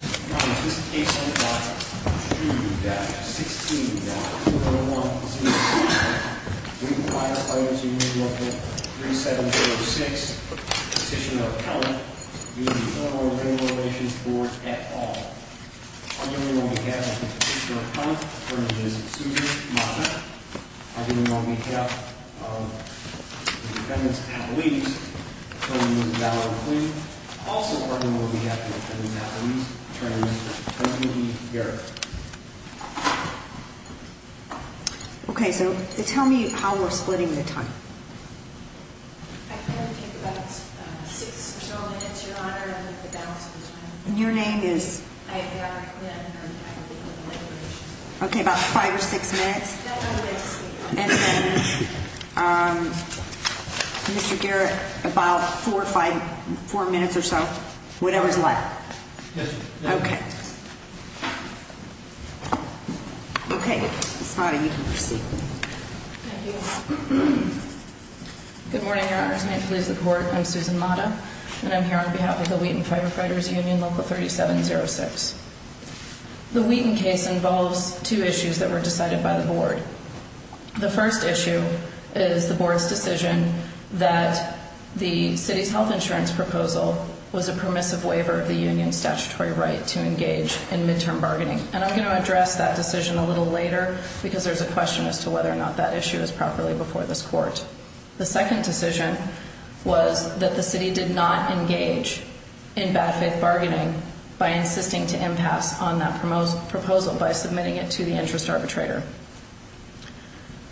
Now in this case number 2-16-201C5, we require Firefighters Union v. 3706, position of account, using Illinois Labor Relations Board at all. Argument on behalf of the position of account, attorney is Susan Mazza. Argument on behalf of the defendants at least, attorney is Valerie Quinn. Also argument on behalf of the defendants at least, attorney is Tracey E. Garrett. Okay, so tell me how we're splitting the time. I plan to take about 6 or so minutes, your honor, to get the balance of the time. And your name is? I am Valerie Quinn, attorney at the Illinois Labor Relations Board. Okay, about 5 or 6 minutes? No, no, no. And then, um, Mr. Garrett, about 4 or 5, 4 minutes or so? Whatever's left? Yes, ma'am. Okay. Okay, Ms. Madda, you can proceed. Thank you. Good morning, your honor. It's an honor to please the court. I'm Susan Madda, and I'm here on behalf of the Wheaton Firefighters Union, Local 3706. The first issue is the board's decision that the city's health insurance proposal was a permissive waiver of the union's statutory right to engage in midterm bargaining. And I'm going to address that decision a little later because there's a question as to whether or not that issue is properly before this court. The second decision was that the city did not engage in bad faith bargaining by insisting to impasse on that proposal by submitting it to the interest arbitrator.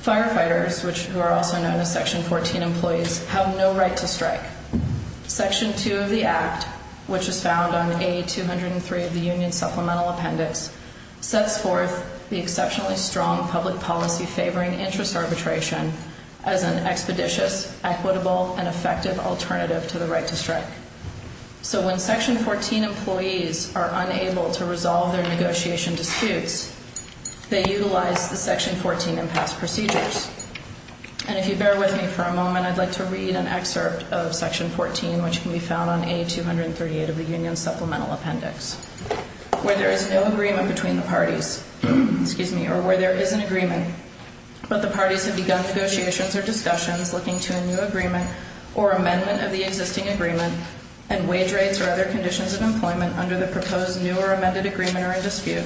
Firefighters, who are also known as Section 14 employees, have no right to strike. Section 2 of the Act, which was found on A203 of the union's supplemental appendix, sets forth the exceptionally strong public policy favoring interest arbitration as an expeditious, equitable, and effective alternative to the right to strike. So when Section 14 employees are unable to resolve their negotiation disputes, they utilize the Section 14 impasse procedures. And if you bear with me for a moment, I'd like to read an excerpt of Section 14, which can be found on A238 of the union's supplemental appendix. Where there is no agreement between the parties, or where there is an agreement, but the parties have begun negotiations or discussions looking to a new agreement or amendment of the existing agreement, and wage rates or other conditions of employment under the proposed new or amended agreement are in dispute,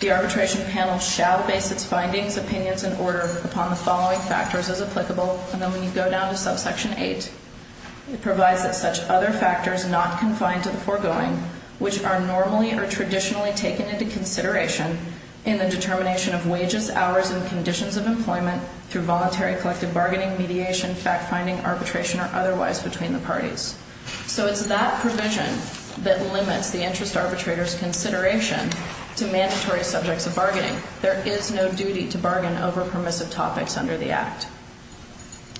the arbitration panel shall base its findings, opinions, and order upon the following factors as applicable. And then when you go down to subsection 8, it provides that such other factors not confined to the foregoing, which are normally or traditionally taken into consideration in the determination of wages, hours, and conditions of employment through voluntary collective bargaining, mediation, fact-finding, arbitration, or otherwise between the parties. So it's that provision that limits the interest arbitrator's consideration to mandatory subjects of bargaining. There is no duty to bargain over permissive topics under the Act.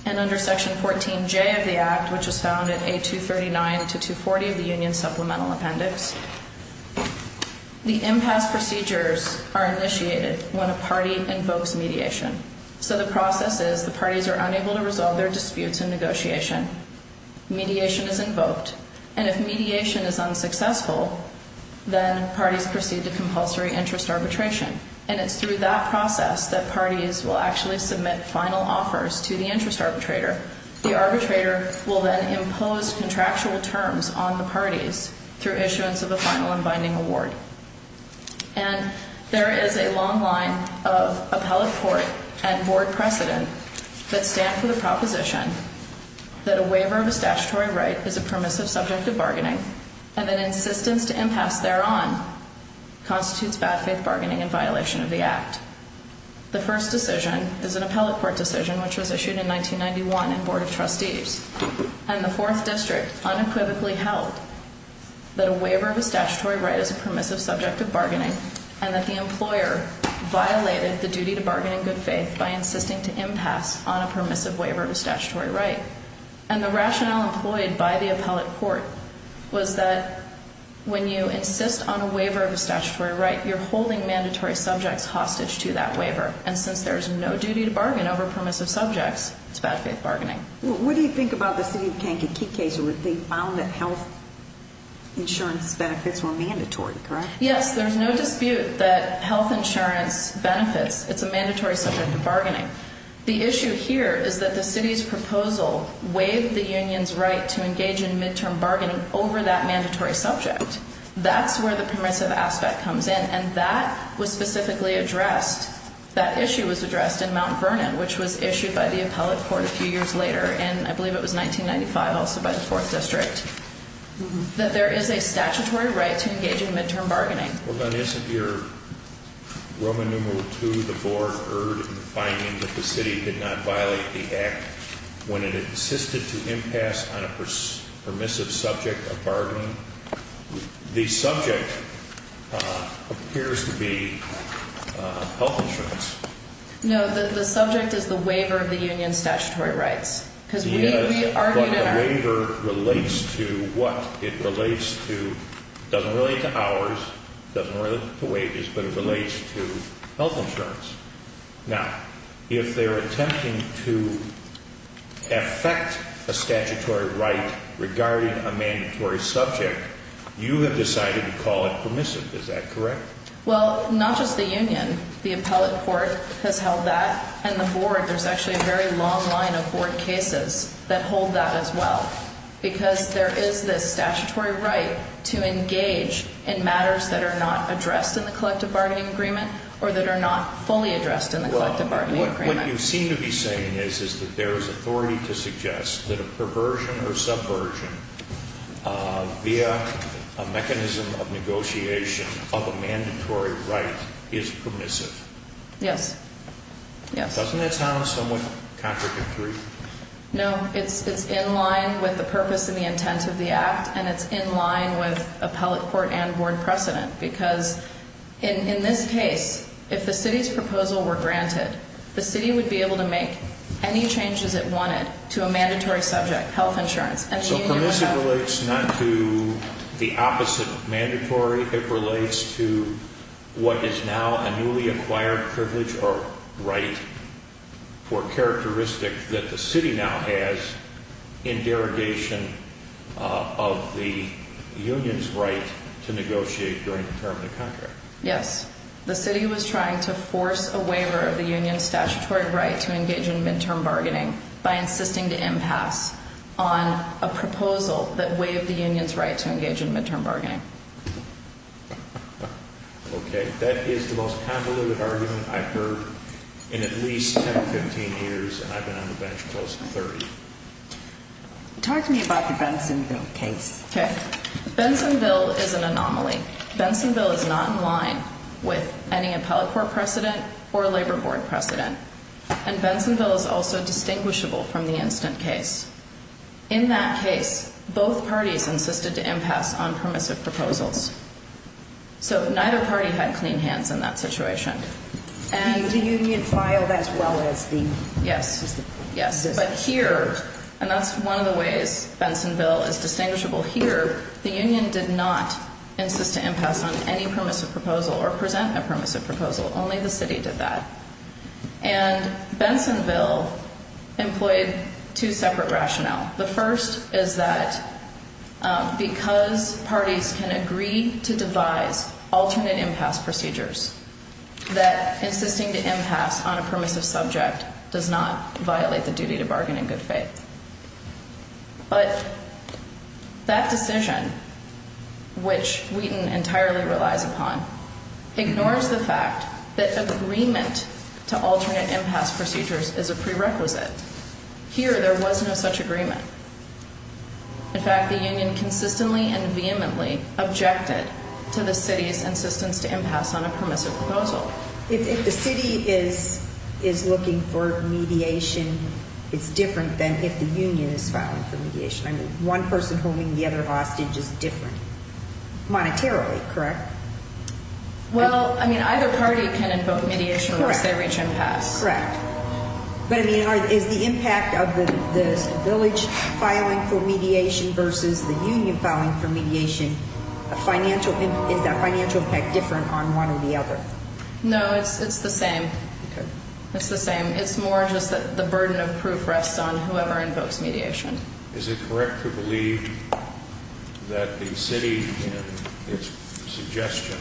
And under Section 14J of the Act, which is found in A239 to 240 of the union's supplemental appendix, the impasse procedures are initiated when a party invokes mediation. So the process is the parties are unable to resolve their disputes in negotiation. Mediation is invoked. And if mediation is unsuccessful, then parties proceed to compulsory interest arbitration. And it's through that process that parties will actually submit final offers to the interest arbitrator. The arbitrator will then impose contractual terms on the parties through issuance of a final and binding award. And there is a long line of appellate court and board precedent that stand for the proposition that a waiver of a statutory right is a permissive subject of bargaining and that insistence to impasse thereon constitutes bad faith bargaining in violation of the Act. The first decision is an appellate court decision which was issued in 1991 in Board of Trustees. And the fourth district unequivocally held that a waiver of a statutory right is a permissive subject of bargaining and that the employer violated the duty to bargain in good faith by insisting to impasse on a permissive waiver of a statutory right. And the rationale employed by the appellate court was that when you insist on a waiver of a statutory right, you're holding mandatory subjects hostage to that waiver. And since there's no duty to bargain over permissive subjects, it's bad faith bargaining. What do you think about the city of Kankakee case where they found that health insurance benefits were mandatory, correct? Yes, there's no dispute that health insurance benefits. It's a mandatory subject of bargaining. The issue here is that the city's proposal waived the union's right to engage in midterm bargaining over that mandatory subject. That's where the permissive aspect comes in, and that was specifically addressed. That issue was addressed in Mount Vernon, which was issued by the appellate court a few years later, and I believe it was 1995 also by the fourth district, that there is a statutory right to engage in midterm bargaining. We're going to ask if your Roman numeral two, the board, erred in finding that the city did not violate the act when it insisted to impasse on a permissive subject of bargaining. The subject appears to be health insurance. No, the subject is the waiver of the union's statutory rights. Yes, but the waiver relates to what? It relates to, doesn't relate to hours, doesn't relate to wages, but it relates to health insurance. Now, if they're attempting to affect a statutory right regarding a mandatory subject, you have decided to call it permissive. Is that correct? Well, not just the union. The appellate court has held that, and the board, there's actually a very long line of board cases that hold that as well because there is this statutory right to engage in matters that are not addressed in the collective bargaining agreement or that are not fully addressed in the collective bargaining agreement. Well, what you seem to be saying is that there is authority to suggest that a perversion or subversion via a mechanism of negotiation of a mandatory right is permissive. Yes, yes. Doesn't that sound somewhat contradictory? No, it's in line with the purpose and the intent of the act, and it's in line with appellate court and board precedent because in this case, if the city's proposal were granted, the city would be able to make any changes it wanted to a mandatory subject, health insurance. So permissive relates not to the opposite of mandatory. It relates to what is now a newly acquired privilege or right or characteristic that the city now has in derogation of the union's right to negotiate during the term of the contract. Yes. The city was trying to force a waiver of the union's statutory right to engage in midterm bargaining by insisting to impasse on a proposal that waived the union's right to engage in midterm bargaining. Okay. That is the most convoluted argument I've heard in at least 10 or 15 years, and I've been on the bench close to 30. Talk to me about the Bensonville case. Okay. Bensonville is an anomaly. Bensonville is not in line with any appellate court precedent or labor board precedent, and Bensonville is also distinguishable from the instant case. In that case, both parties insisted to impasse on permissive proposals. So neither party had clean hands in that situation. The union filed as well as the system? Yes. Yes. But here, and that's one of the ways Bensonville is distinguishable here, the union did not insist to impasse on any permissive proposal or present a permissive proposal. Only the city did that. And Bensonville employed two separate rationale. The first is that because parties can agree to devise alternate impasse procedures, that insisting to impasse on a permissive subject does not violate the duty to bargain in good faith. But that decision, which Wheaton entirely relies upon, ignores the fact that agreement to alternate impasse procedures is a prerequisite. Here, there was no such agreement. In fact, the union consistently and vehemently objected to the city's insistence to impasse on a permissive proposal. If the city is looking for mediation, it's different than if the union is filing for mediation. I mean, one person homing the other hostage is different monetarily, correct? Well, I mean, either party can invoke mediation once they reach impasse. Correct. But, I mean, is the impact of the village filing for mediation versus the union filing for mediation, is that financial impact different on one or the other? No, it's the same. It's the same. It's more just that the burden of proof rests on whoever invokes mediation. Is it correct to believe that the city, in its suggestions,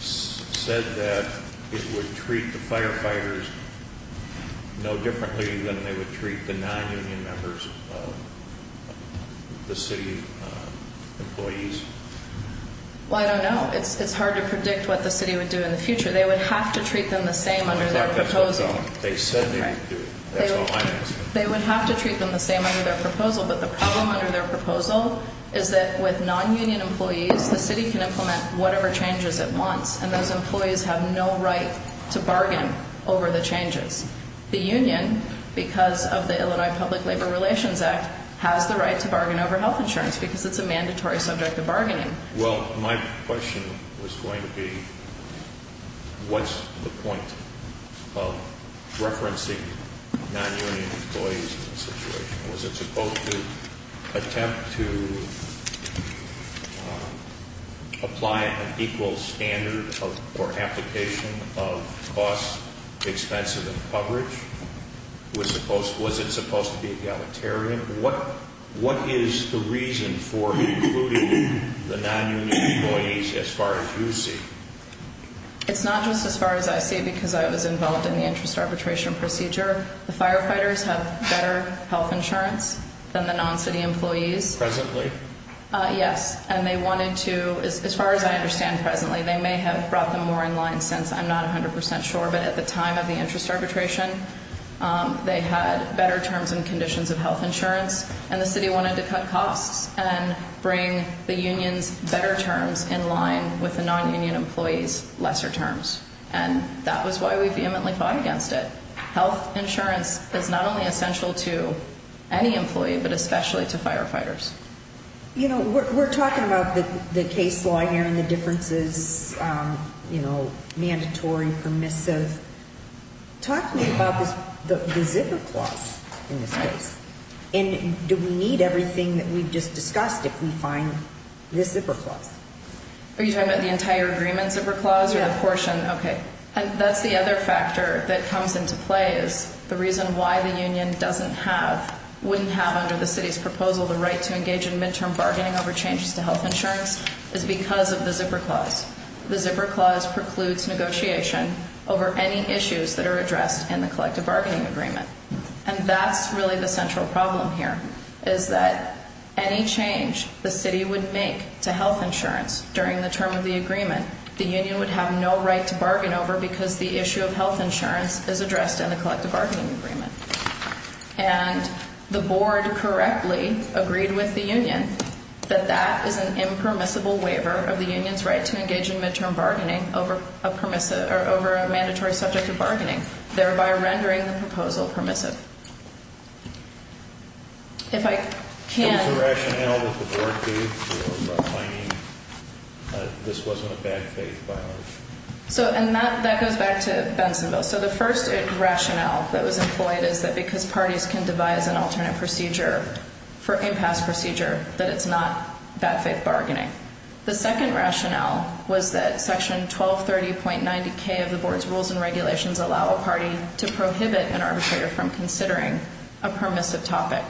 said that it would treat the firefighters no differently than they would treat the non-union members of the city employees? Well, I don't know. It's hard to predict what the city would do in the future. They would have to treat them the same under their proposal. They said they would do it. That's all I'm asking. They would have to treat them the same under their proposal, but the problem under their proposal is that with non-union employees, the city can implement whatever changes it wants, and those employees have no right to bargain over the changes. The union, because of the Illinois Public Labor Relations Act, has the right to bargain over health insurance because it's a mandatory subject of bargaining. Well, my question was going to be what's the point of referencing non-union employees in this situation? Was it supposed to attempt to apply an equal standard or application of costs expensive of coverage? Was it supposed to be egalitarian? What is the reason for including the non-union employees as far as you see? It's not just as far as I see because I was involved in the interest arbitration procedure. The firefighters have better health insurance than the non-city employees. Presently? Yes. And they wanted to, as far as I understand presently, they may have brought them more in line since. I'm not 100 percent sure. But at the time of the interest arbitration, they had better terms and conditions of health insurance, and the city wanted to cut costs and bring the union's better terms in line with the non-union employees' lesser terms. And that was why we vehemently fought against it. Health insurance is not only essential to any employee, but especially to firefighters. You know, we're talking about the case law here and the differences, you know, mandatory, permissive. Talk to me about the zipper clause in this case. And do we need everything that we've just discussed if we find this zipper clause? Are you talking about the entire agreement zipper clause or the portion? Yes. Okay. And that's the other factor that comes into play is the reason why the union doesn't have, wouldn't have under the city's proposal the right to engage in midterm bargaining over changes to health insurance is because of the zipper clause. The zipper clause precludes negotiation over any issues that are addressed in the collective bargaining agreement. And that's really the central problem here is that any change the city would make to health insurance during the term of the agreement, the union would have no right to bargain over because the issue of health insurance is addressed in the collective bargaining agreement. And the board correctly agreed with the union that that is an impermissible waiver of the union's right to engage in midterm bargaining over a permissive or over a mandatory subject of bargaining, thereby rendering the proposal permissive. If I can. What is the rationale that the board gave for claiming that this wasn't a bad faith by law? So, and that goes back to Bensonville. So the first rationale that was employed is that because parties can devise an alternate procedure for impasse procedure, that it's not bad faith bargaining. The second rationale was that section 1230.90K of the board's rules and regulations allow a party to prohibit an arbitrator from considering a permissive topic.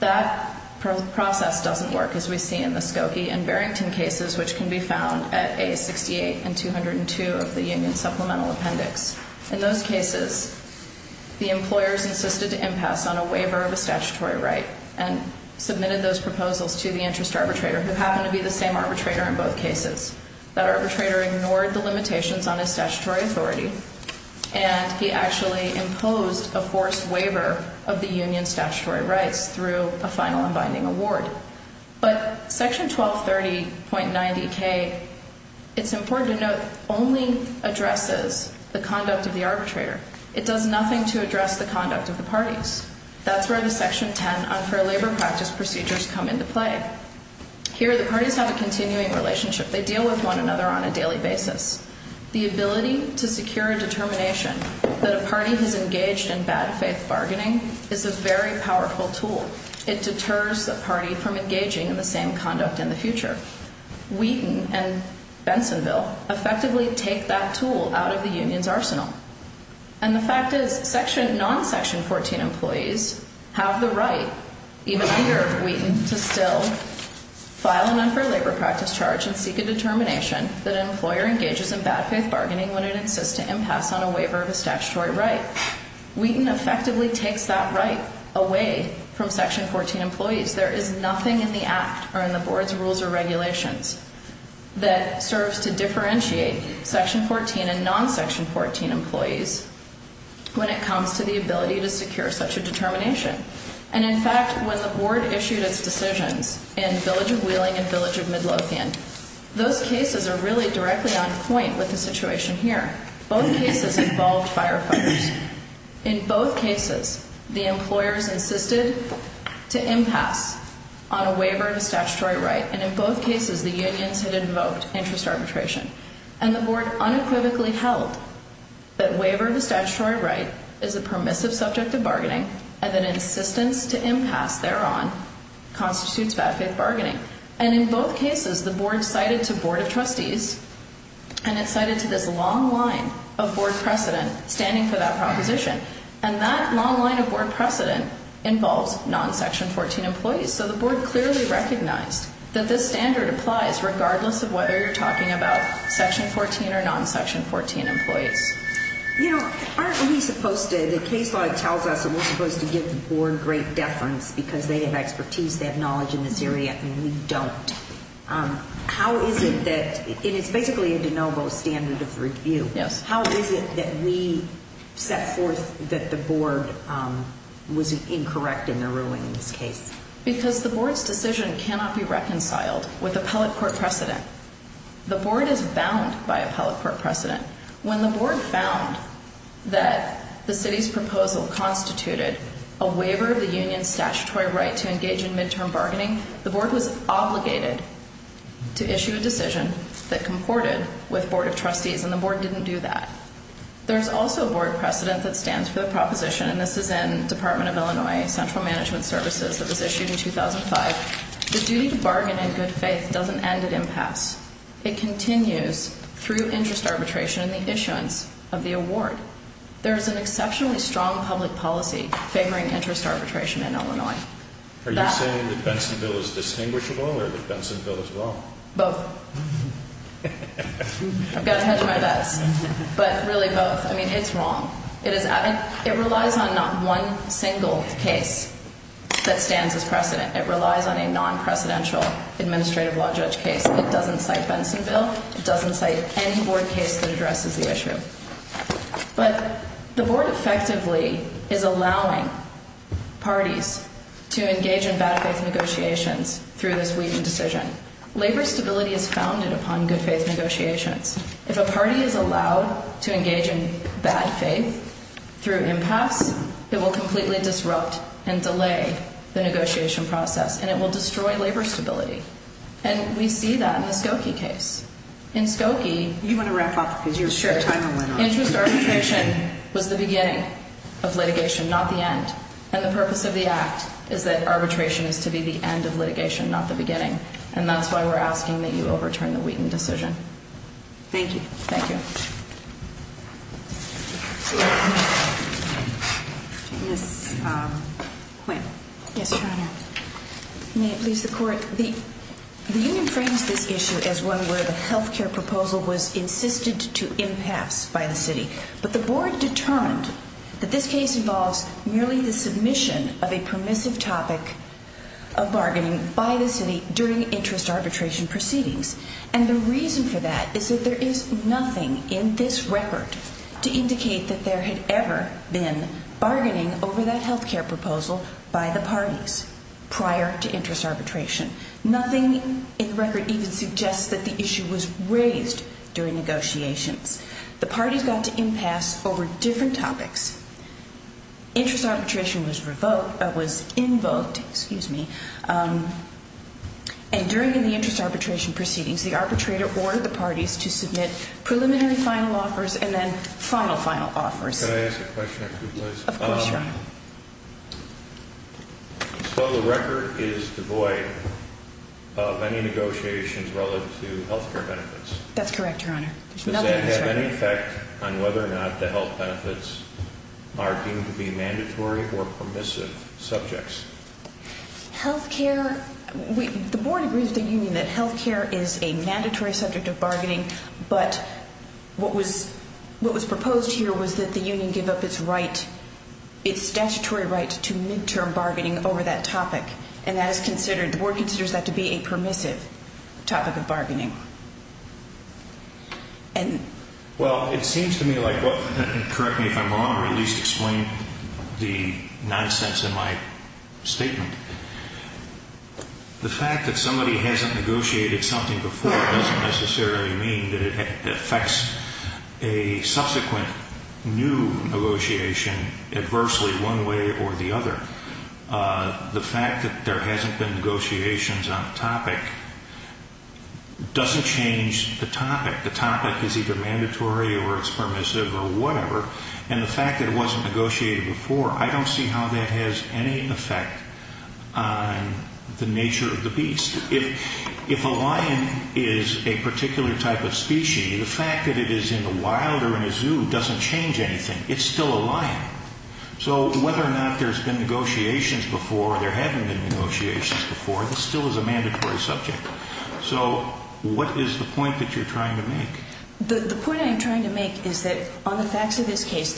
That process doesn't work as we see in the Skokie and Barrington cases, which can be found at A68 and 202 of the union supplemental appendix. In those cases, the employers insisted to impasse on a waiver of a statutory right and submitted those proposals to the interest arbitrator, who happened to be the same arbitrator in both cases. That arbitrator ignored the limitations on his statutory authority, and he actually imposed a forced waiver of the union's statutory rights through a final and binding award. But section 1230.90K, it's important to note, only addresses the conduct of the arbitrator. It does nothing to address the conduct of the parties. That's where the section 10 unfair labor practice procedures come into play. Here, the parties have a continuing relationship. They deal with one another on a daily basis. The ability to secure a determination that a party has engaged in bad faith bargaining is a very powerful tool. It deters the party from engaging in the same conduct in the future. Wheaton and Bensonville effectively take that tool out of the union's arsenal. And the fact is, non-section 14 employees have the right, even under Wheaton, to still file an unfair labor practice charge and seek a determination that an employer engages in bad faith bargaining when it insists to impasse on a waiver of a statutory right. Wheaton effectively takes that right away from section 14 employees. There is nothing in the act or in the board's rules or regulations that serves to differentiate section 14 and non-section 14 employees when it comes to the ability to secure such a determination. And in fact, when the board issued its decisions in Village of Wheeling and Village of Midlothian, those cases are really directly on point with the situation here. Both cases involved firefighters. In both cases, the employers insisted to impasse on a waiver of a statutory right. And in both cases, the unions had invoked interest arbitration. And the board unequivocally held that waiver of a statutory right is a permissive subject of bargaining and that insistence to impasse thereon constitutes bad faith bargaining. And in both cases, the board cited to board of trustees and it cited to this long line of board precedent standing for that proposition. And that long line of board precedent involves non-section 14 employees. So the board clearly recognized that this standard applies regardless of whether you're talking about section 14 or non-section 14 employees. You know, aren't we supposed to, the case law tells us that we're supposed to give the board great deference because they have expertise, they have knowledge in this area, and we don't. How is it that, and it's basically a de novo standard of review. Yes. How is it that we set forth that the board was incorrect in their ruling in this case? Because the board's decision cannot be reconciled with appellate court precedent. The board is bound by appellate court precedent. When the board found that the city's proposal constituted a waiver of the union's statutory right to engage in midterm bargaining, the board was obligated to issue a decision that comported with board of trustees, and the board didn't do that. There's also a board precedent that stands for the proposition, and this is in Department of Illinois Central Management Services that was issued in 2005. The duty to bargain in good faith doesn't end at impasse. It continues through interest arbitration and the issuance of the award. There is an exceptionally strong public policy favoring interest arbitration in Illinois. Are you saying that Bensonville is distinguishable or that Bensonville is wrong? Both. I've got to hedge my bets. But really, both. I mean, it's wrong. It relies on not one single case that stands as precedent. It relies on a non-precedential administrative law judge case. It doesn't cite Bensonville. It doesn't cite any board case that addresses the issue. But the board effectively is allowing parties to engage in bad faith negotiations through this Wheaton decision. Labor stability is founded upon good faith negotiations. If a party is allowed to engage in bad faith through impasse, it will completely disrupt and delay the negotiation process, and it will destroy labor stability. And we see that in the Skokie case. In Skokie, interest arbitration was the beginning of litigation, not the end. And the purpose of the act is that arbitration is to be the end of litigation, not the beginning. And that's why we're asking that you overturn the Wheaton decision. Thank you. Ms. Quinn. Yes, Your Honor. May it please the Court. The union frames this issue as one where the health care proposal was insisted to impasse by the city. But the board determined that this case involves merely the submission of a permissive topic of bargaining by the city during interest arbitration proceedings. And the reason for that is that there is nothing in this record to indicate that there had ever been bargaining over that health care proposal by the parties prior to interest arbitration. Nothing in the record even suggests that the issue was raised during negotiations. The parties got to impasse over different topics. Interest arbitration was invoked. And during the interest arbitration proceedings, the arbitrator ordered the parties to submit preliminary final offers and then final, final offers. Can I ask a question or two, please? Of course, Your Honor. So the record is devoid of any negotiations relative to health care benefits. That's correct, Your Honor. Does that have any effect on whether or not the health benefits are deemed to be mandatory or permissive subjects? Health care, the board agrees with the union that health care is a mandatory subject of bargaining. But what was proposed here was that the union give up its statutory right to midterm bargaining over that topic. And that is considered, the board considers that to be a permissive topic of bargaining. Well, it seems to me like, correct me if I'm wrong, or at least explain the nonsense in my statement. The fact that somebody hasn't negotiated something before doesn't necessarily mean that it affects a subsequent new negotiation adversely one way or the other. The fact that there hasn't been negotiations on a topic doesn't change the topic. The topic is either mandatory or it's permissive or whatever. And the fact that it wasn't negotiated before, I don't see how that has any effect on the nature of the beast. If a lion is a particular type of species, the fact that it is in the wild or in a zoo doesn't change anything. It's still a lion. So whether or not there's been negotiations before or there haven't been negotiations before, this still is a mandatory subject. So what is the point that you're trying to make? The point I'm trying to make is that on the facts of this case,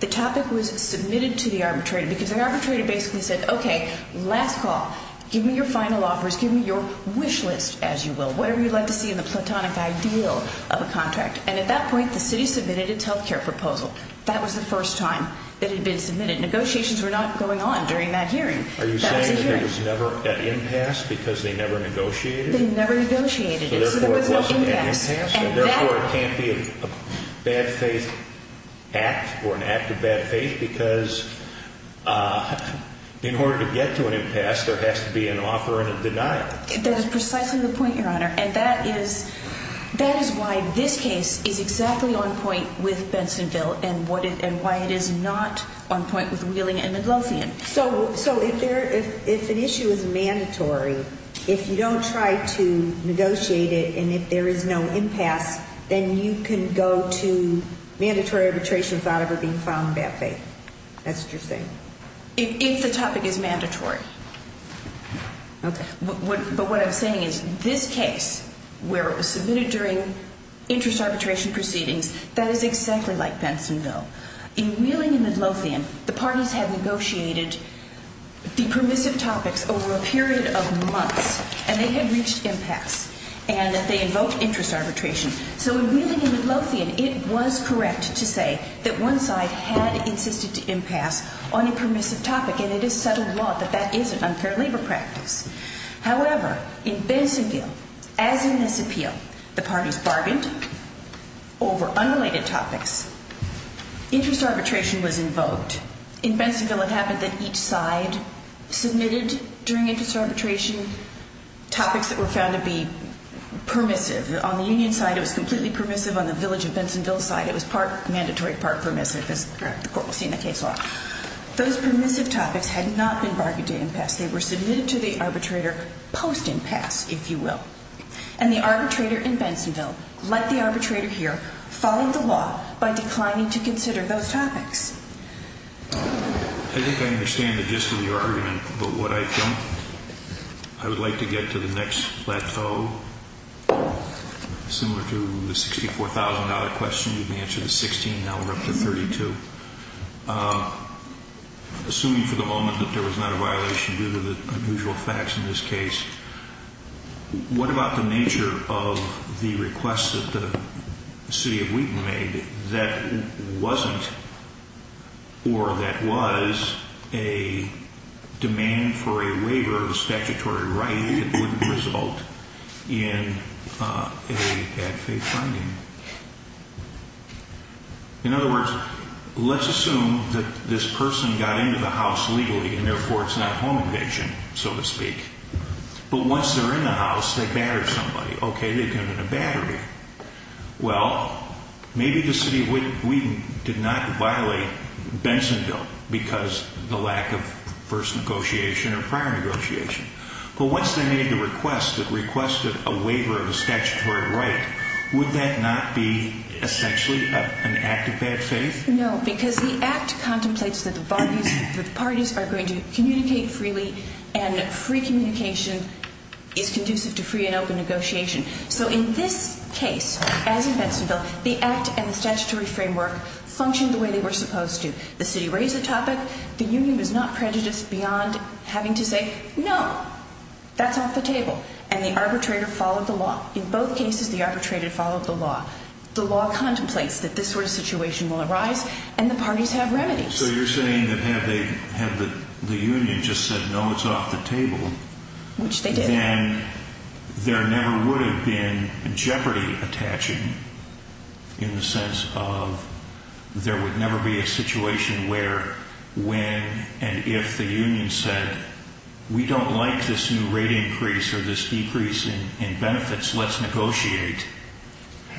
the topic was submitted to the arbitrator. Because the arbitrator basically said, okay, last call. Give me your final offers. Give me your wish list, as you will. Whatever you'd like to see in the platonic ideal of a contract. And at that point, the city submitted its health care proposal. That was the first time that it had been submitted. Negotiations were not going on during that hearing. Are you saying that there was never an impasse because they never negotiated? They never negotiated it. So therefore, it wasn't an impasse. And therefore, it can't be a bad faith act or an act of bad faith because in order to get to an impasse, there has to be an offer and a denial. That is precisely the point, Your Honor. And that is why this case is exactly on point with Bensonville and why it is not on point with Wheeling and Midlothian. So if an issue is mandatory, if you don't try to negotiate it and if there is no impasse, then you can go to mandatory arbitration without ever being found in bad faith? That's what you're saying? If the topic is mandatory. Okay. But what I'm saying is this case, where it was submitted during interest arbitration proceedings, that is exactly like Bensonville. In Wheeling and Midlothian, the parties had negotiated the permissive topics over a period of months. And they had reached impasse. And they invoked interest arbitration. So in Wheeling and Midlothian, it was correct to say that one side had insisted to impasse on a permissive topic. And it is settled law that that isn't unfair labor practice. However, in Bensonville, as in this appeal, the parties bargained over unrelated topics. Interest arbitration was invoked. In Bensonville, it happened that each side submitted during interest arbitration topics that were found to be permissive. On the union side, it was completely permissive. On the village of Bensonville side, it was part mandatory, part permissive, as the court will see in the case law. Those permissive topics had not been bargained to impasse. They were submitted to the arbitrator post-impasse, if you will. And the arbitrator in Bensonville, like the arbitrator here, followed the law by declining to consider those topics. I think I understand the gist of your argument, but what I don't. I would like to get to the next plateau. Similar to the $64,000 question, you've answered the $16,000 up to $32,000. Assuming for the moment that there was not a violation due to the unusual facts in this case, what about the nature of the request that the city of Wheaton made that wasn't or that was a demand for a waiver of a statutory right that wouldn't result in a bad faith finding? In other words, let's assume that this person got into the house legally and therefore it's not home invasion, so to speak. But once they're in the house, they battered somebody. Okay, they've given a battery. Well, maybe the city of Wheaton did not violate Bensonville because of the lack of first negotiation or prior negotiation. But once they made the request that requested a waiver of a statutory right, would that not be essentially an act of bad faith? No, because the act contemplates that the parties are going to communicate freely and free communication is conducive to free and open negotiation. So in this case, as in Bensonville, the act and the statutory framework functioned the way they were supposed to. The city raised the topic. The union was not prejudiced beyond having to say, no, that's off the table. And the arbitrator followed the law. In both cases, the arbitrator followed the law. The law contemplates that this sort of situation will arise and the parties have remedies. So you're saying that had the union just said, no, it's off the table, then there never would have been jeopardy attaching, in the sense of there would never be a situation where, when and if the union said, we don't like this new rate increase or this decrease in benefits, let's negotiate.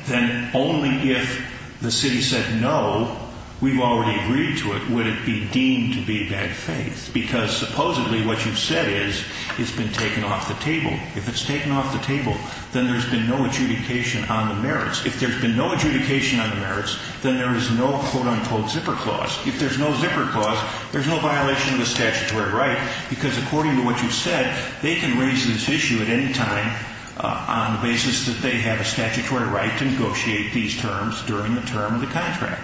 Then only if the city said, no, we've already agreed to it, would it be deemed to be bad faith. Because supposedly what you've said is it's been taken off the table. If it's taken off the table, then there's been no adjudication on the merits. If there's been no adjudication on the merits, then there is no, quote, unquote, zipper clause. If there's no zipper clause, there's no violation of the statutory right. Because according to what you've said, they can raise this issue at any time on the basis that they have a statutory right to negotiate these terms during the term of the contract.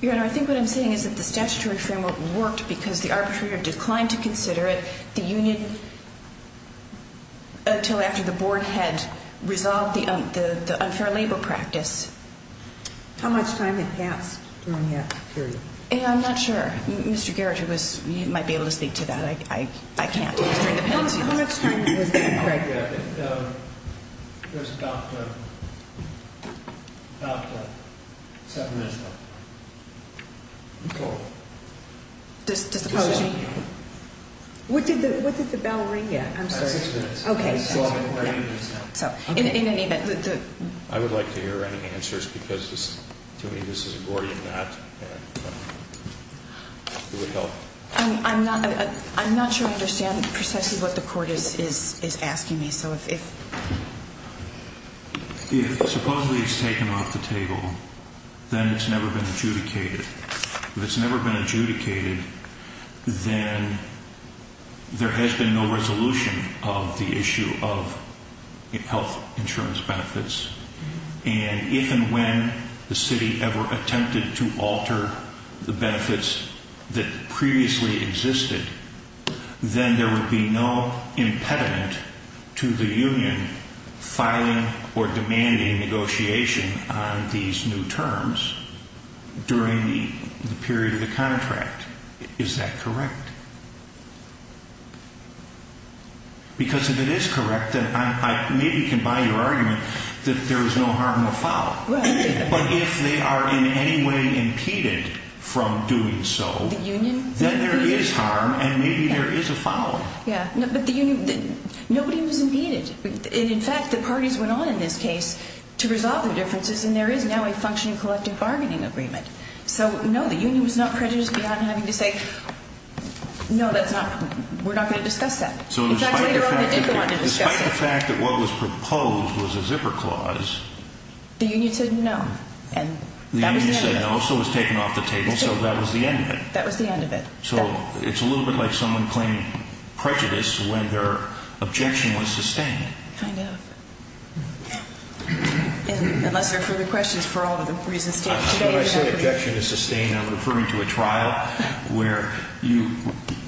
Your Honor, I think what I'm saying is that the statutory framework worked because the arbitrator declined to consider it. The union, until after the board had resolved the unfair labor practice. How much time had passed during that period? I'm not sure. Mr. Garrett, you might be able to speak to that. I can't. How much time was there, Greg? I think there was Dr. Dr. Separation. Disopposing. What did the bell ring yet? I'm sorry. Okay. So in any event. I would like to hear any answers because to me this is a Gordian knot. It would help. I'm not sure I understand precisely what the court is asking me. So if. If supposedly it's taken off the table, then it's never been adjudicated. It's never been adjudicated. Then. There has been no resolution of the issue of health insurance benefits. And even when the city ever attempted to alter the benefits that previously existed. Then there would be no impediment to the union. Filing or demanding negotiation on these new terms. During the period of the contract. Is that correct? Because if it is correct, then I maybe can buy your argument that there is no harm or foul. But if they are in any way impeded from doing so. The union. Then there is harm and maybe there is a foul. Yeah, but the union. Nobody was impeded. In fact, the parties went on in this case. To resolve the differences. And there is now a functioning collective bargaining agreement. So no, the union was not prejudiced beyond having to say. No, that's not. We're not going to discuss that. Despite the fact that what was proposed was a zipper clause. The union said no. And that was the end of it. The union said no. So it was taken off the table. So that was the end of it. That was the end of it. So it's a little bit like someone claiming prejudice when their objection was sustained. Kind of. Unless there are further questions for all of the reasons. When I say objection is sustained. I'm referring to a trial where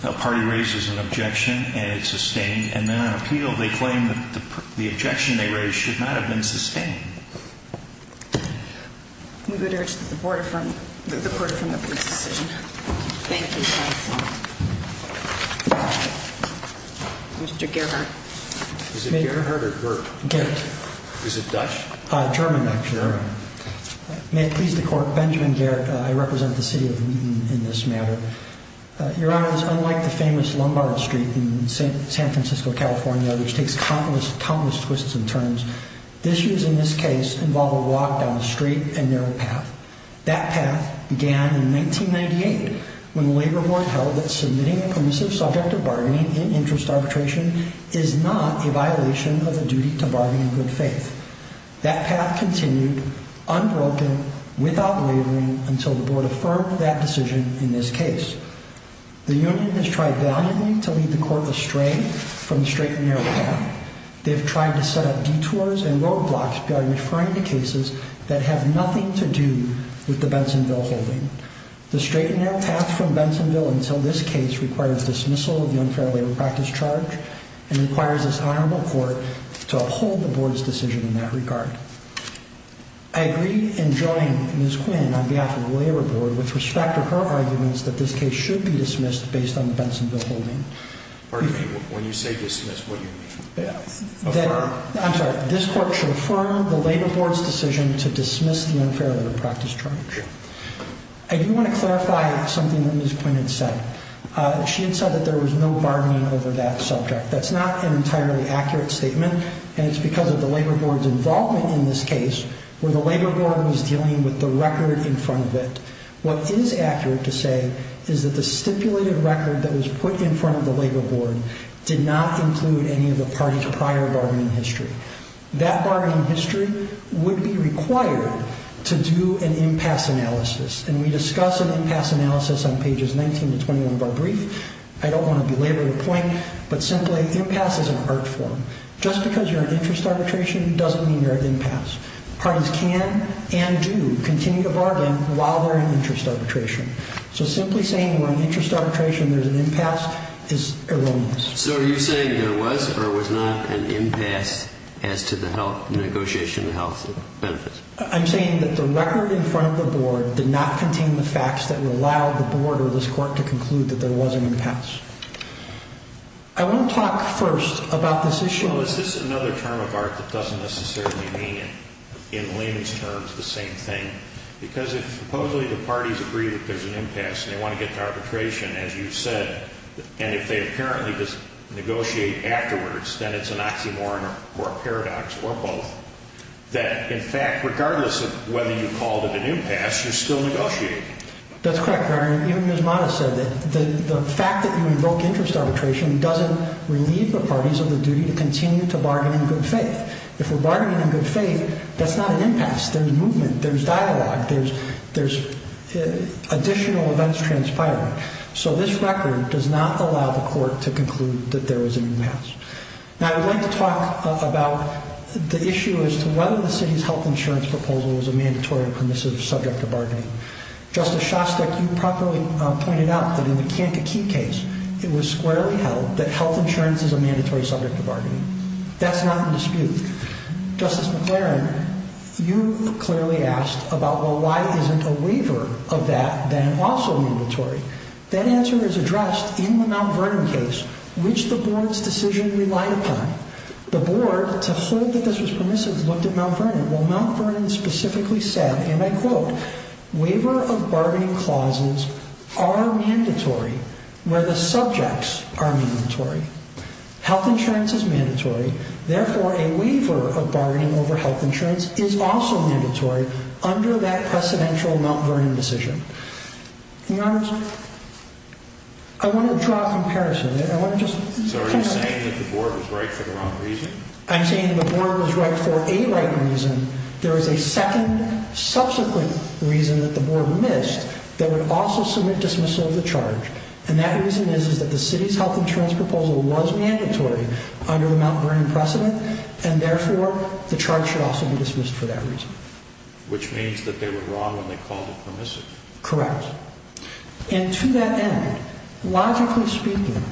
a party raises an objection and it's sustained. And then on appeal they claim the objection they raised should not have been sustained. We would urge that the Board approve the decision. Thank you, counsel. Mr. Gerhart. Is it Gerhart or Gert? Gerhart. Is it Dutch? German, actually. German. May it please the Court. Benjamin Gerhart. I represent the city in this matter. Your Honor, it's unlike the famous Lombardo Street in San Francisco, California, which takes countless, countless twists and turns. Issues in this case involve a walk down a straight and narrow path. That path began in 1998 when the Labor Board held that submitting a permissive subject of bargaining in interest arbitration is not a violation of the duty to bargain in good faith. That path continued, unbroken, without wavering, until the Board affirmed that decision in this case. The union has tried valiantly to lead the Court astray from the straight and narrow path. They have tried to set up detours and roadblocks by referring to cases that have nothing to do with the Bensonville holding. The straight and narrow path from Bensonville until this case requires dismissal of the unfair labor practice charge and requires this honorable Court to uphold the Board's decision in that regard. I agree in joining Ms. Quinn on behalf of the Labor Board with respect to her arguments that this case should be dismissed based on the Bensonville holding. Pardon me, when you say dismiss, what do you mean? Affirm. I'm sorry. This Court should affirm the Labor Board's decision to dismiss the unfair labor practice charge. Yeah. I do want to clarify something that Ms. Quinn had said. She had said that there was no bargaining over that subject. That's not an entirely accurate statement, and it's because of the Labor Board's involvement in this case where the Labor Board was dealing with the record in front of it. What is accurate to say is that the stipulated record that was put in front of the Labor Board did not include any of the party's prior bargaining history. That bargaining history would be required to do an impasse analysis, and we discuss an impasse analysis on pages 19 to 21 of our brief. I don't want to belabor the point, but simply impasse is an art form. Just because you're in interest arbitration doesn't mean you're at impasse. Parties can and do continue to bargain while they're in interest arbitration. So simply saying you're in interest arbitration and there's an impasse is erroneous. So are you saying there was or was not an impasse as to the negotiation of the health benefits? I'm saying that the record in front of the Board did not contain the facts that would allow the Board or this Court to conclude that there was an impasse. I want to talk first about this issue. Well, is this another term of art that doesn't necessarily mean in layman's terms the same thing? Because if supposedly the parties agree that there's an impasse and they want to get to arbitration, as you said, and if they apparently just negotiate afterwards, then it's an oxymoron or a paradox or both, that, in fact, regardless of whether you called it an impasse, you're still negotiating. That's correct, Your Honor. Even Ms. Mattis said that the fact that you invoked interest arbitration doesn't relieve the parties of the duty to continue to bargain in good faith. If we're bargaining in good faith, that's not an impasse. There's movement. There's dialogue. There's additional events transpiring. So this record does not allow the Court to conclude that there was an impasse. Now, I would like to talk about the issue as to whether the city's health insurance proposal is a mandatory or permissive subject to bargaining. Justice Shostak, you properly pointed out that in the Kankakee case, it was squarely held that health insurance is a mandatory subject to bargaining. That's not in dispute. Justice McLaren, you clearly asked about, well, why isn't a waiver of that then also mandatory? That answer is addressed in the Mount Vernon case, which the Board's decision relied upon. The Board, to hold that this was permissive, looked at Mount Vernon. Well, Mount Vernon specifically said, and I quote, Waiver of bargaining clauses are mandatory where the subjects are mandatory. Health insurance is mandatory. Therefore, a waiver of bargaining over health insurance is also mandatory under that precedential Mount Vernon decision. In other words, I want to draw a comparison. So are you saying that the Board was right for the wrong reason? I'm saying the Board was right for a right reason. There is a second, subsequent reason that the Board missed that would also submit dismissal of the charge. And that reason is that the city's health insurance proposal was mandatory under the Mount Vernon precedent. And therefore, the charge should also be dismissed for that reason. Which means that they were wrong when they called it permissive. Correct. And to that end, logically speaking,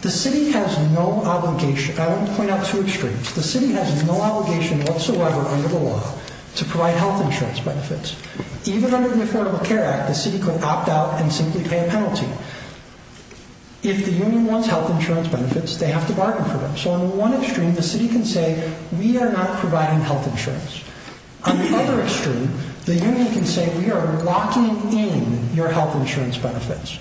the city has no obligation. I don't point out two extremes. The city has no obligation whatsoever under the law to provide health insurance benefits. Even under the Affordable Care Act, the city could opt out and simply pay a penalty. If the union wants health insurance benefits, they have to bargain for them. So on one extreme, the city can say, we are not providing health insurance. On the other extreme, the union can say, we are locking in your health insurance benefits.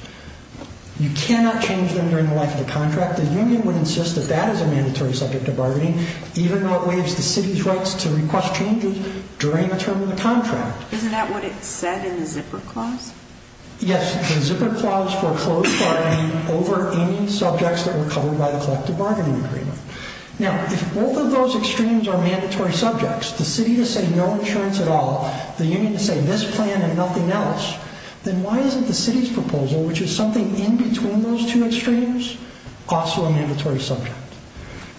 You cannot change them during the life of the contract. The union would insist that that is a mandatory subject of bargaining, even though it waives the city's rights to request changes during the term of the contract. Isn't that what it said in the zipper clause? Yes, the zipper clause foreclosed bargaining over any subjects that were covered by the collective bargaining agreement. Now, if both of those extremes are mandatory subjects, the city to say no insurance at all, the union to say this plan and nothing else, then why isn't the city's proposal, which is something in between those two extremes, also a mandatory subject?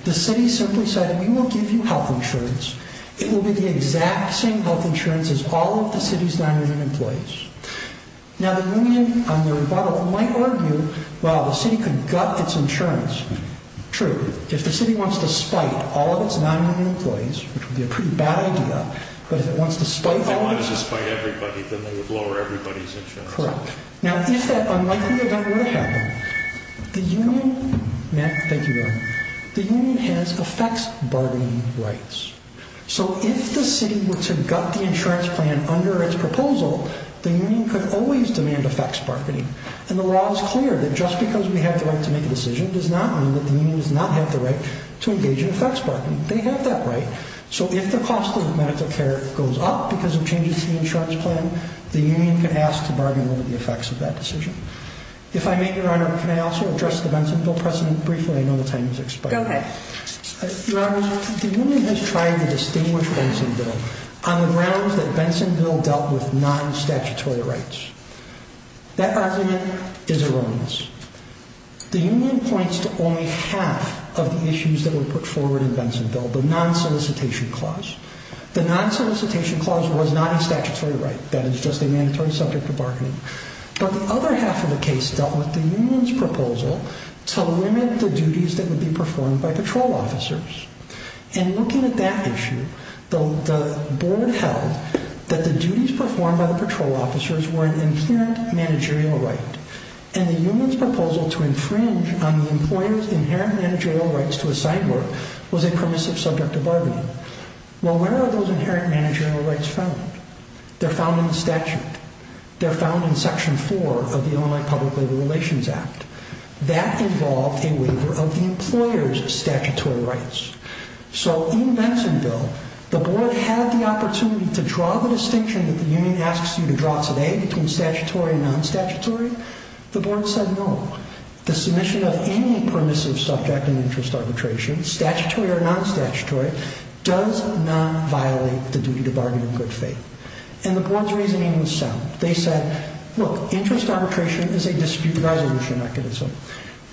The city simply said, we will give you health insurance. It will be the exact same health insurance as all of the city's 900 employees. Now, the union, on the rebuttal, might argue, well, the city could gut its insurance. True. If the city wants to spite all of its 900 employees, which would be a pretty bad idea, but if it wants to spite all of its... If they wanted to spite everybody, then they would lower everybody's insurance. Correct. Now, if that unlikely event were to happen, the union... Matt, thank you very much. The union has effects bargaining rights. So, if the city were to gut the insurance plan under its proposal, the union could always demand effects bargaining. And the law is clear that just because we have the right to make a decision does not mean that the union does not have the right to engage in effects bargaining. They have that right. So, if the cost of medical care goes up because of changes to the insurance plan, the union can ask to bargain over the effects of that decision. If I may, Your Honor, can I also address the Benson Bill precedent briefly? I know the time is expiring. Go ahead. Your Honor, the union has tried to distinguish Benson Bill on the grounds that Benson Bill dealt with non-statutory rights. That argument is erroneous. The union points to only half of the issues that were put forward in Benson Bill, the non-solicitation clause. The non-solicitation clause was not a statutory right. That is just a mandatory subject of bargaining. But the other half of the case dealt with the union's proposal to limit the duties that would be performed by patrol officers. In looking at that issue, the board held that the duties performed by the patrol officers were an inherent managerial right. And the union's proposal to infringe on the employer's inherent managerial rights to assign work was a permissive subject of bargaining. Well, where are those inherent managerial rights found? They're found in the statute. They're found in Section 4 of the Illinois Public Labor Relations Act. That involved a waiver of the employer's statutory rights. So, in Benson Bill, the board had the opportunity to draw the distinction that the union asks you to draw today between statutory and non-statutory. The board said no. The submission of any permissive subject in interest arbitration, statutory or non-statutory, does not violate the duty to bargain in good faith. And the board's reasoning was sound. They said, look, interest arbitration is a dispute resolution mechanism.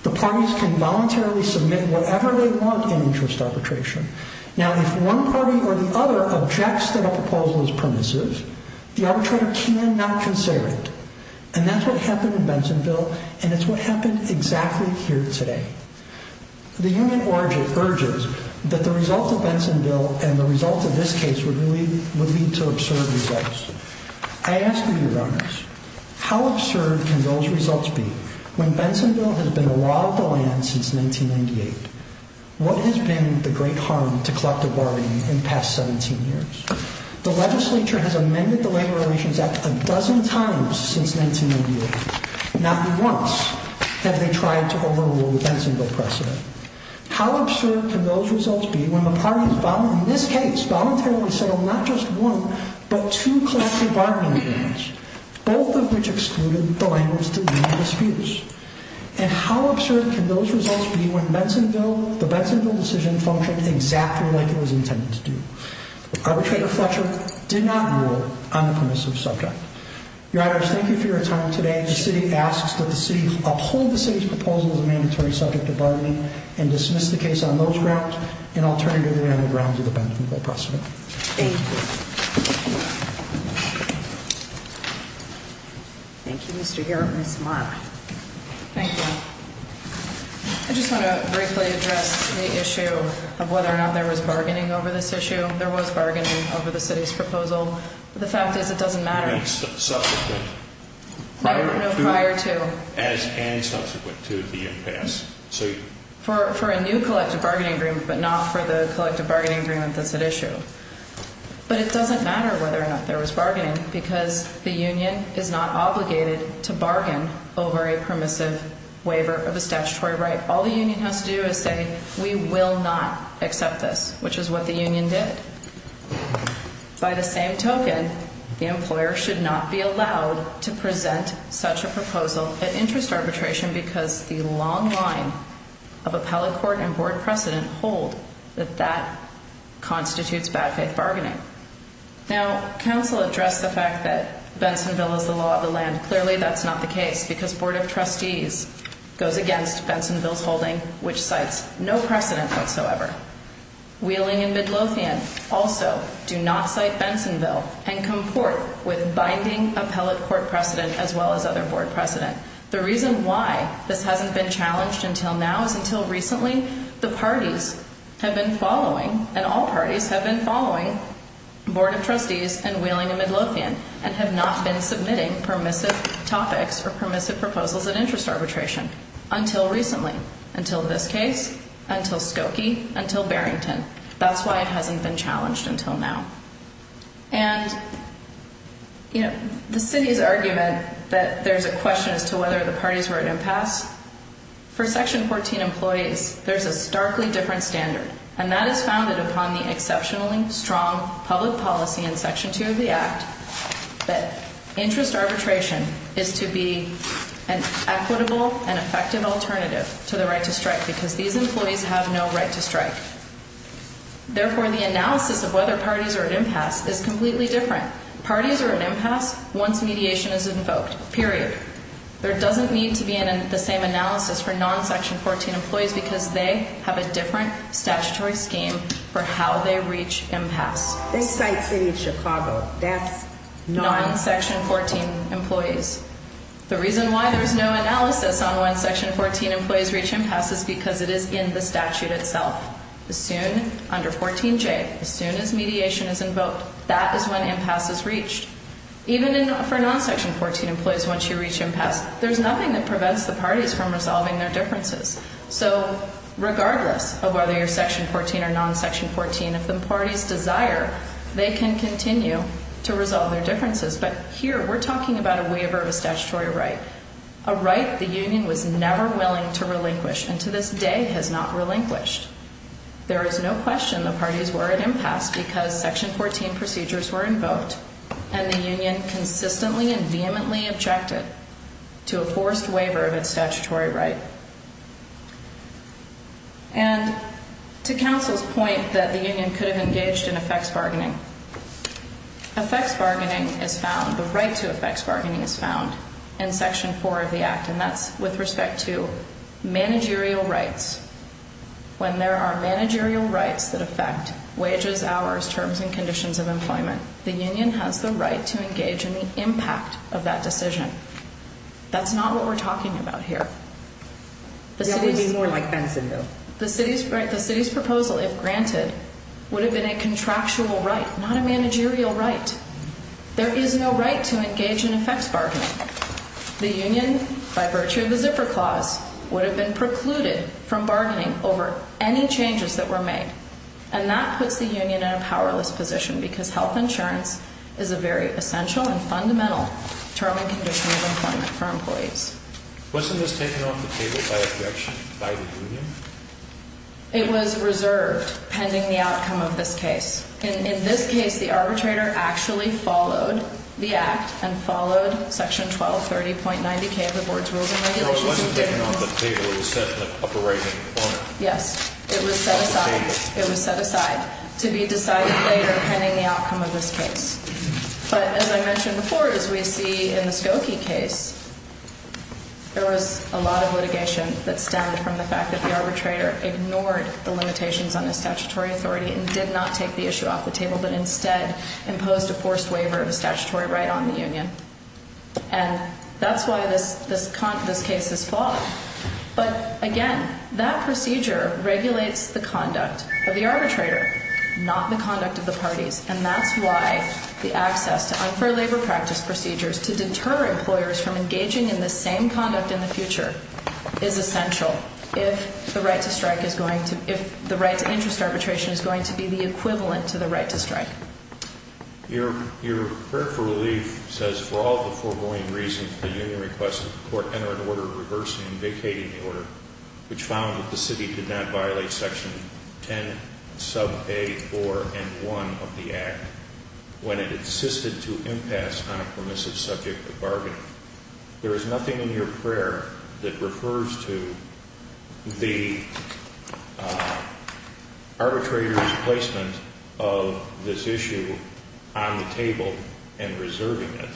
The parties can voluntarily submit whatever they want in interest arbitration. Now, if one party or the other objects that a proposal is permissive, the arbitrator cannot consider it. And that's what happened in Benson Bill, and it's what happened exactly here today. The union urges that the result of Benson Bill and the result of this case would lead to absurd results. I ask of you, learners, how absurd can those results be when Benson Bill has been a law of the land since 1998? What has been the great harm to collective bargaining in the past 17 years? The legislature has amended the Labor Relations Act a dozen times since 1998. Not once have they tried to overrule the Benson Bill precedent. How absurd can those results be when the parties, in this case, voluntarily settled not just one but two collective bargaining agreements, both of which excluded the language of the union disputes? And how absurd can those results be when the Benson Bill decision functioned exactly like it was intended to do? Arbitrator Fletcher did not rule on the permissive subject. Your honors, thank you for your time today. The city asks that the city uphold the city's proposal as a mandatory subject of bargaining and dismiss the case on those grounds and alternatively on the grounds of the Benson Bill precedent. Thank you. Thank you, Mr. Garrett. Ms. Amara. Thank you. I just want to briefly address the issue of whether or not there was bargaining over this issue. There was bargaining over the city's proposal. The fact is it doesn't matter. Subsequent? No, prior to. As in subsequent to the impasse. For a new collective bargaining agreement but not for the collective bargaining agreement that's at issue. But it doesn't matter whether or not there was bargaining because the union is not obligated to bargain over a permissive waiver of a statutory right. All the union has to do is say we will not accept this, which is what the union did. By the same token, the employer should not be allowed to present such a proposal at interest arbitration because the long line of appellate court and board precedent hold that that constitutes bad faith bargaining. Now, counsel addressed the fact that Benson Bill is the law of the land. Clearly, that's not the case because Board of Trustees goes against Benson Bill's holding, which cites no precedent whatsoever. Wheeling and Midlothian also do not cite Benson Bill and comport with binding appellate court precedent as well as other board precedent. The reason why this hasn't been challenged until now is until recently the parties have been following, and all parties have been following, Board of Trustees and Wheeling and Midlothian and have not been submitting permissive topics or permissive proposals at interest arbitration until recently, until this case, until Skokie, until Barrington. That's why it hasn't been challenged until now. And, you know, the city's argument that there's a question as to whether the parties were at impasse, for Section 14 employees, there's a starkly different standard, and that is founded upon the exceptionally strong public policy in Section 2 of the Act that interest arbitration is to be an equitable and effective alternative to the right to strike because these employees have no right to strike. Therefore, the analysis of whether parties are at impasse is completely different. Parties are at impasse once mediation is invoked, period. There doesn't need to be the same analysis for non-Section 14 employees because they have a different statutory scheme for how they reach impasse. This site, City of Chicago, that's non-Section 14 employees. The reason why there's no analysis on when Section 14 employees reach impasse is because it is in the statute itself. As soon under 14J, as soon as mediation is invoked, that is when impasse is reached. Even for non-Section 14 employees, once you reach impasse, there's nothing that prevents the parties from resolving their differences. So regardless of whether you're Section 14 or non-Section 14, if the parties desire, they can continue to resolve their differences. But here we're talking about a waiver of a statutory right, a right the union was never willing to relinquish and to this day has not relinquished. There is no question the parties were at impasse because Section 14 procedures were invoked and the union consistently and vehemently objected to a forced waiver of its statutory right. And to counsel's point that the union could have engaged in effects bargaining, effects bargaining is found, the right to effects bargaining is found in Section 4 of the Act, and that's with respect to managerial rights. When there are managerial rights that affect wages, hours, terms, and conditions of employment, the union has the right to engage in the impact of that decision. That's not what we're talking about here. That would be more like Bensonville. The city's proposal, if granted, would have been a contractual right, not a managerial right. There is no right to engage in effects bargaining. The union, by virtue of the Zipper Clause, would have been precluded from bargaining over any changes that were made, and that puts the union in a powerless position because health insurance is a very essential and fundamental term and condition of employment for employees. Wasn't this taken off the table by objection by the union? It was reserved pending the outcome of this case. In this case, the arbitrator actually followed the Act and followed Section 1230.90K of the Board's Rules and Regulations. It wasn't taken off the table. It was set in the upper right-hand corner. Yes. It was set aside. It was set aside to be decided later pending the outcome of this case. But as I mentioned before, as we see in the Skokie case, there was a lot of litigation that stemmed from the fact that the arbitrator ignored the limitations on his statutory authority and did not take the issue off the table, but instead imposed a forced waiver of a statutory right on the union. And that's why this case is flawed. But again, that procedure regulates the conduct of the arbitrator, not the conduct of the parties, and that's why the access to unfair labor practice procedures to deter employers from engaging in this same conduct in the future is essential if the right to interest arbitration is going to be the equivalent to the right to strike. Your prayer for relief says, For all the foregoing reasons, the union requested that the Court enter an order reversing and vacating the order, which found that the City did not violate Section 10, Sub. A. 4 and 1 of the Act when it insisted to impasse on a permissive subject of bargaining. There is nothing in your prayer that refers to the arbitrator's placement of this issue on the table and reserving it.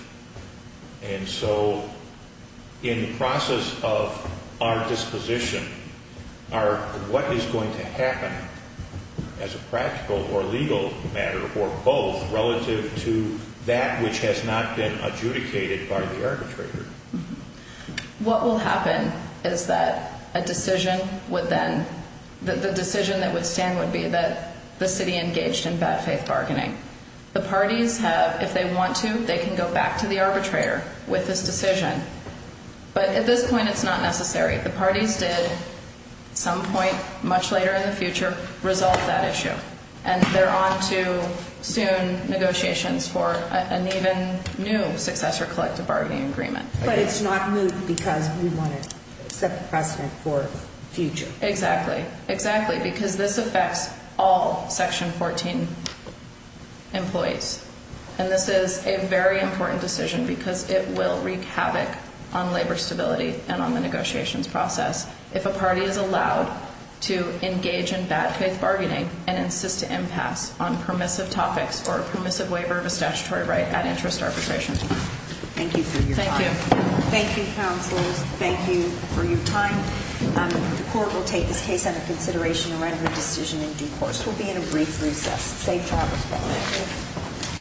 And so in the process of our disposition, what is going to happen as a practical or legal matter or both relative to that which has not been adjudicated by the arbitrator? What will happen is that a decision would then, the decision that would stand would be that the City engaged in bad faith bargaining. The parties have, if they want to, they can go back to the arbitrator with this decision. But at this point, it's not necessary. The parties did at some point much later in the future resolve that issue. And they're on to soon negotiations for an even new successor collective bargaining agreement. But it's not new because we want to set the precedent for future. Exactly. Exactly. Because this affects all Section 14 employees. And this is a very important decision because it will wreak havoc on labor stability and on the negotiations process. If a party is allowed to engage in bad faith bargaining and insist to impasse on permissive topics or a permissive waiver of a statutory right at interest arbitration. Thank you for your time. Thank you. Thank you, counselors. Thank you for your time. The court will take this case under consideration and render a decision in due course. We'll be in a brief recess. Safe travels.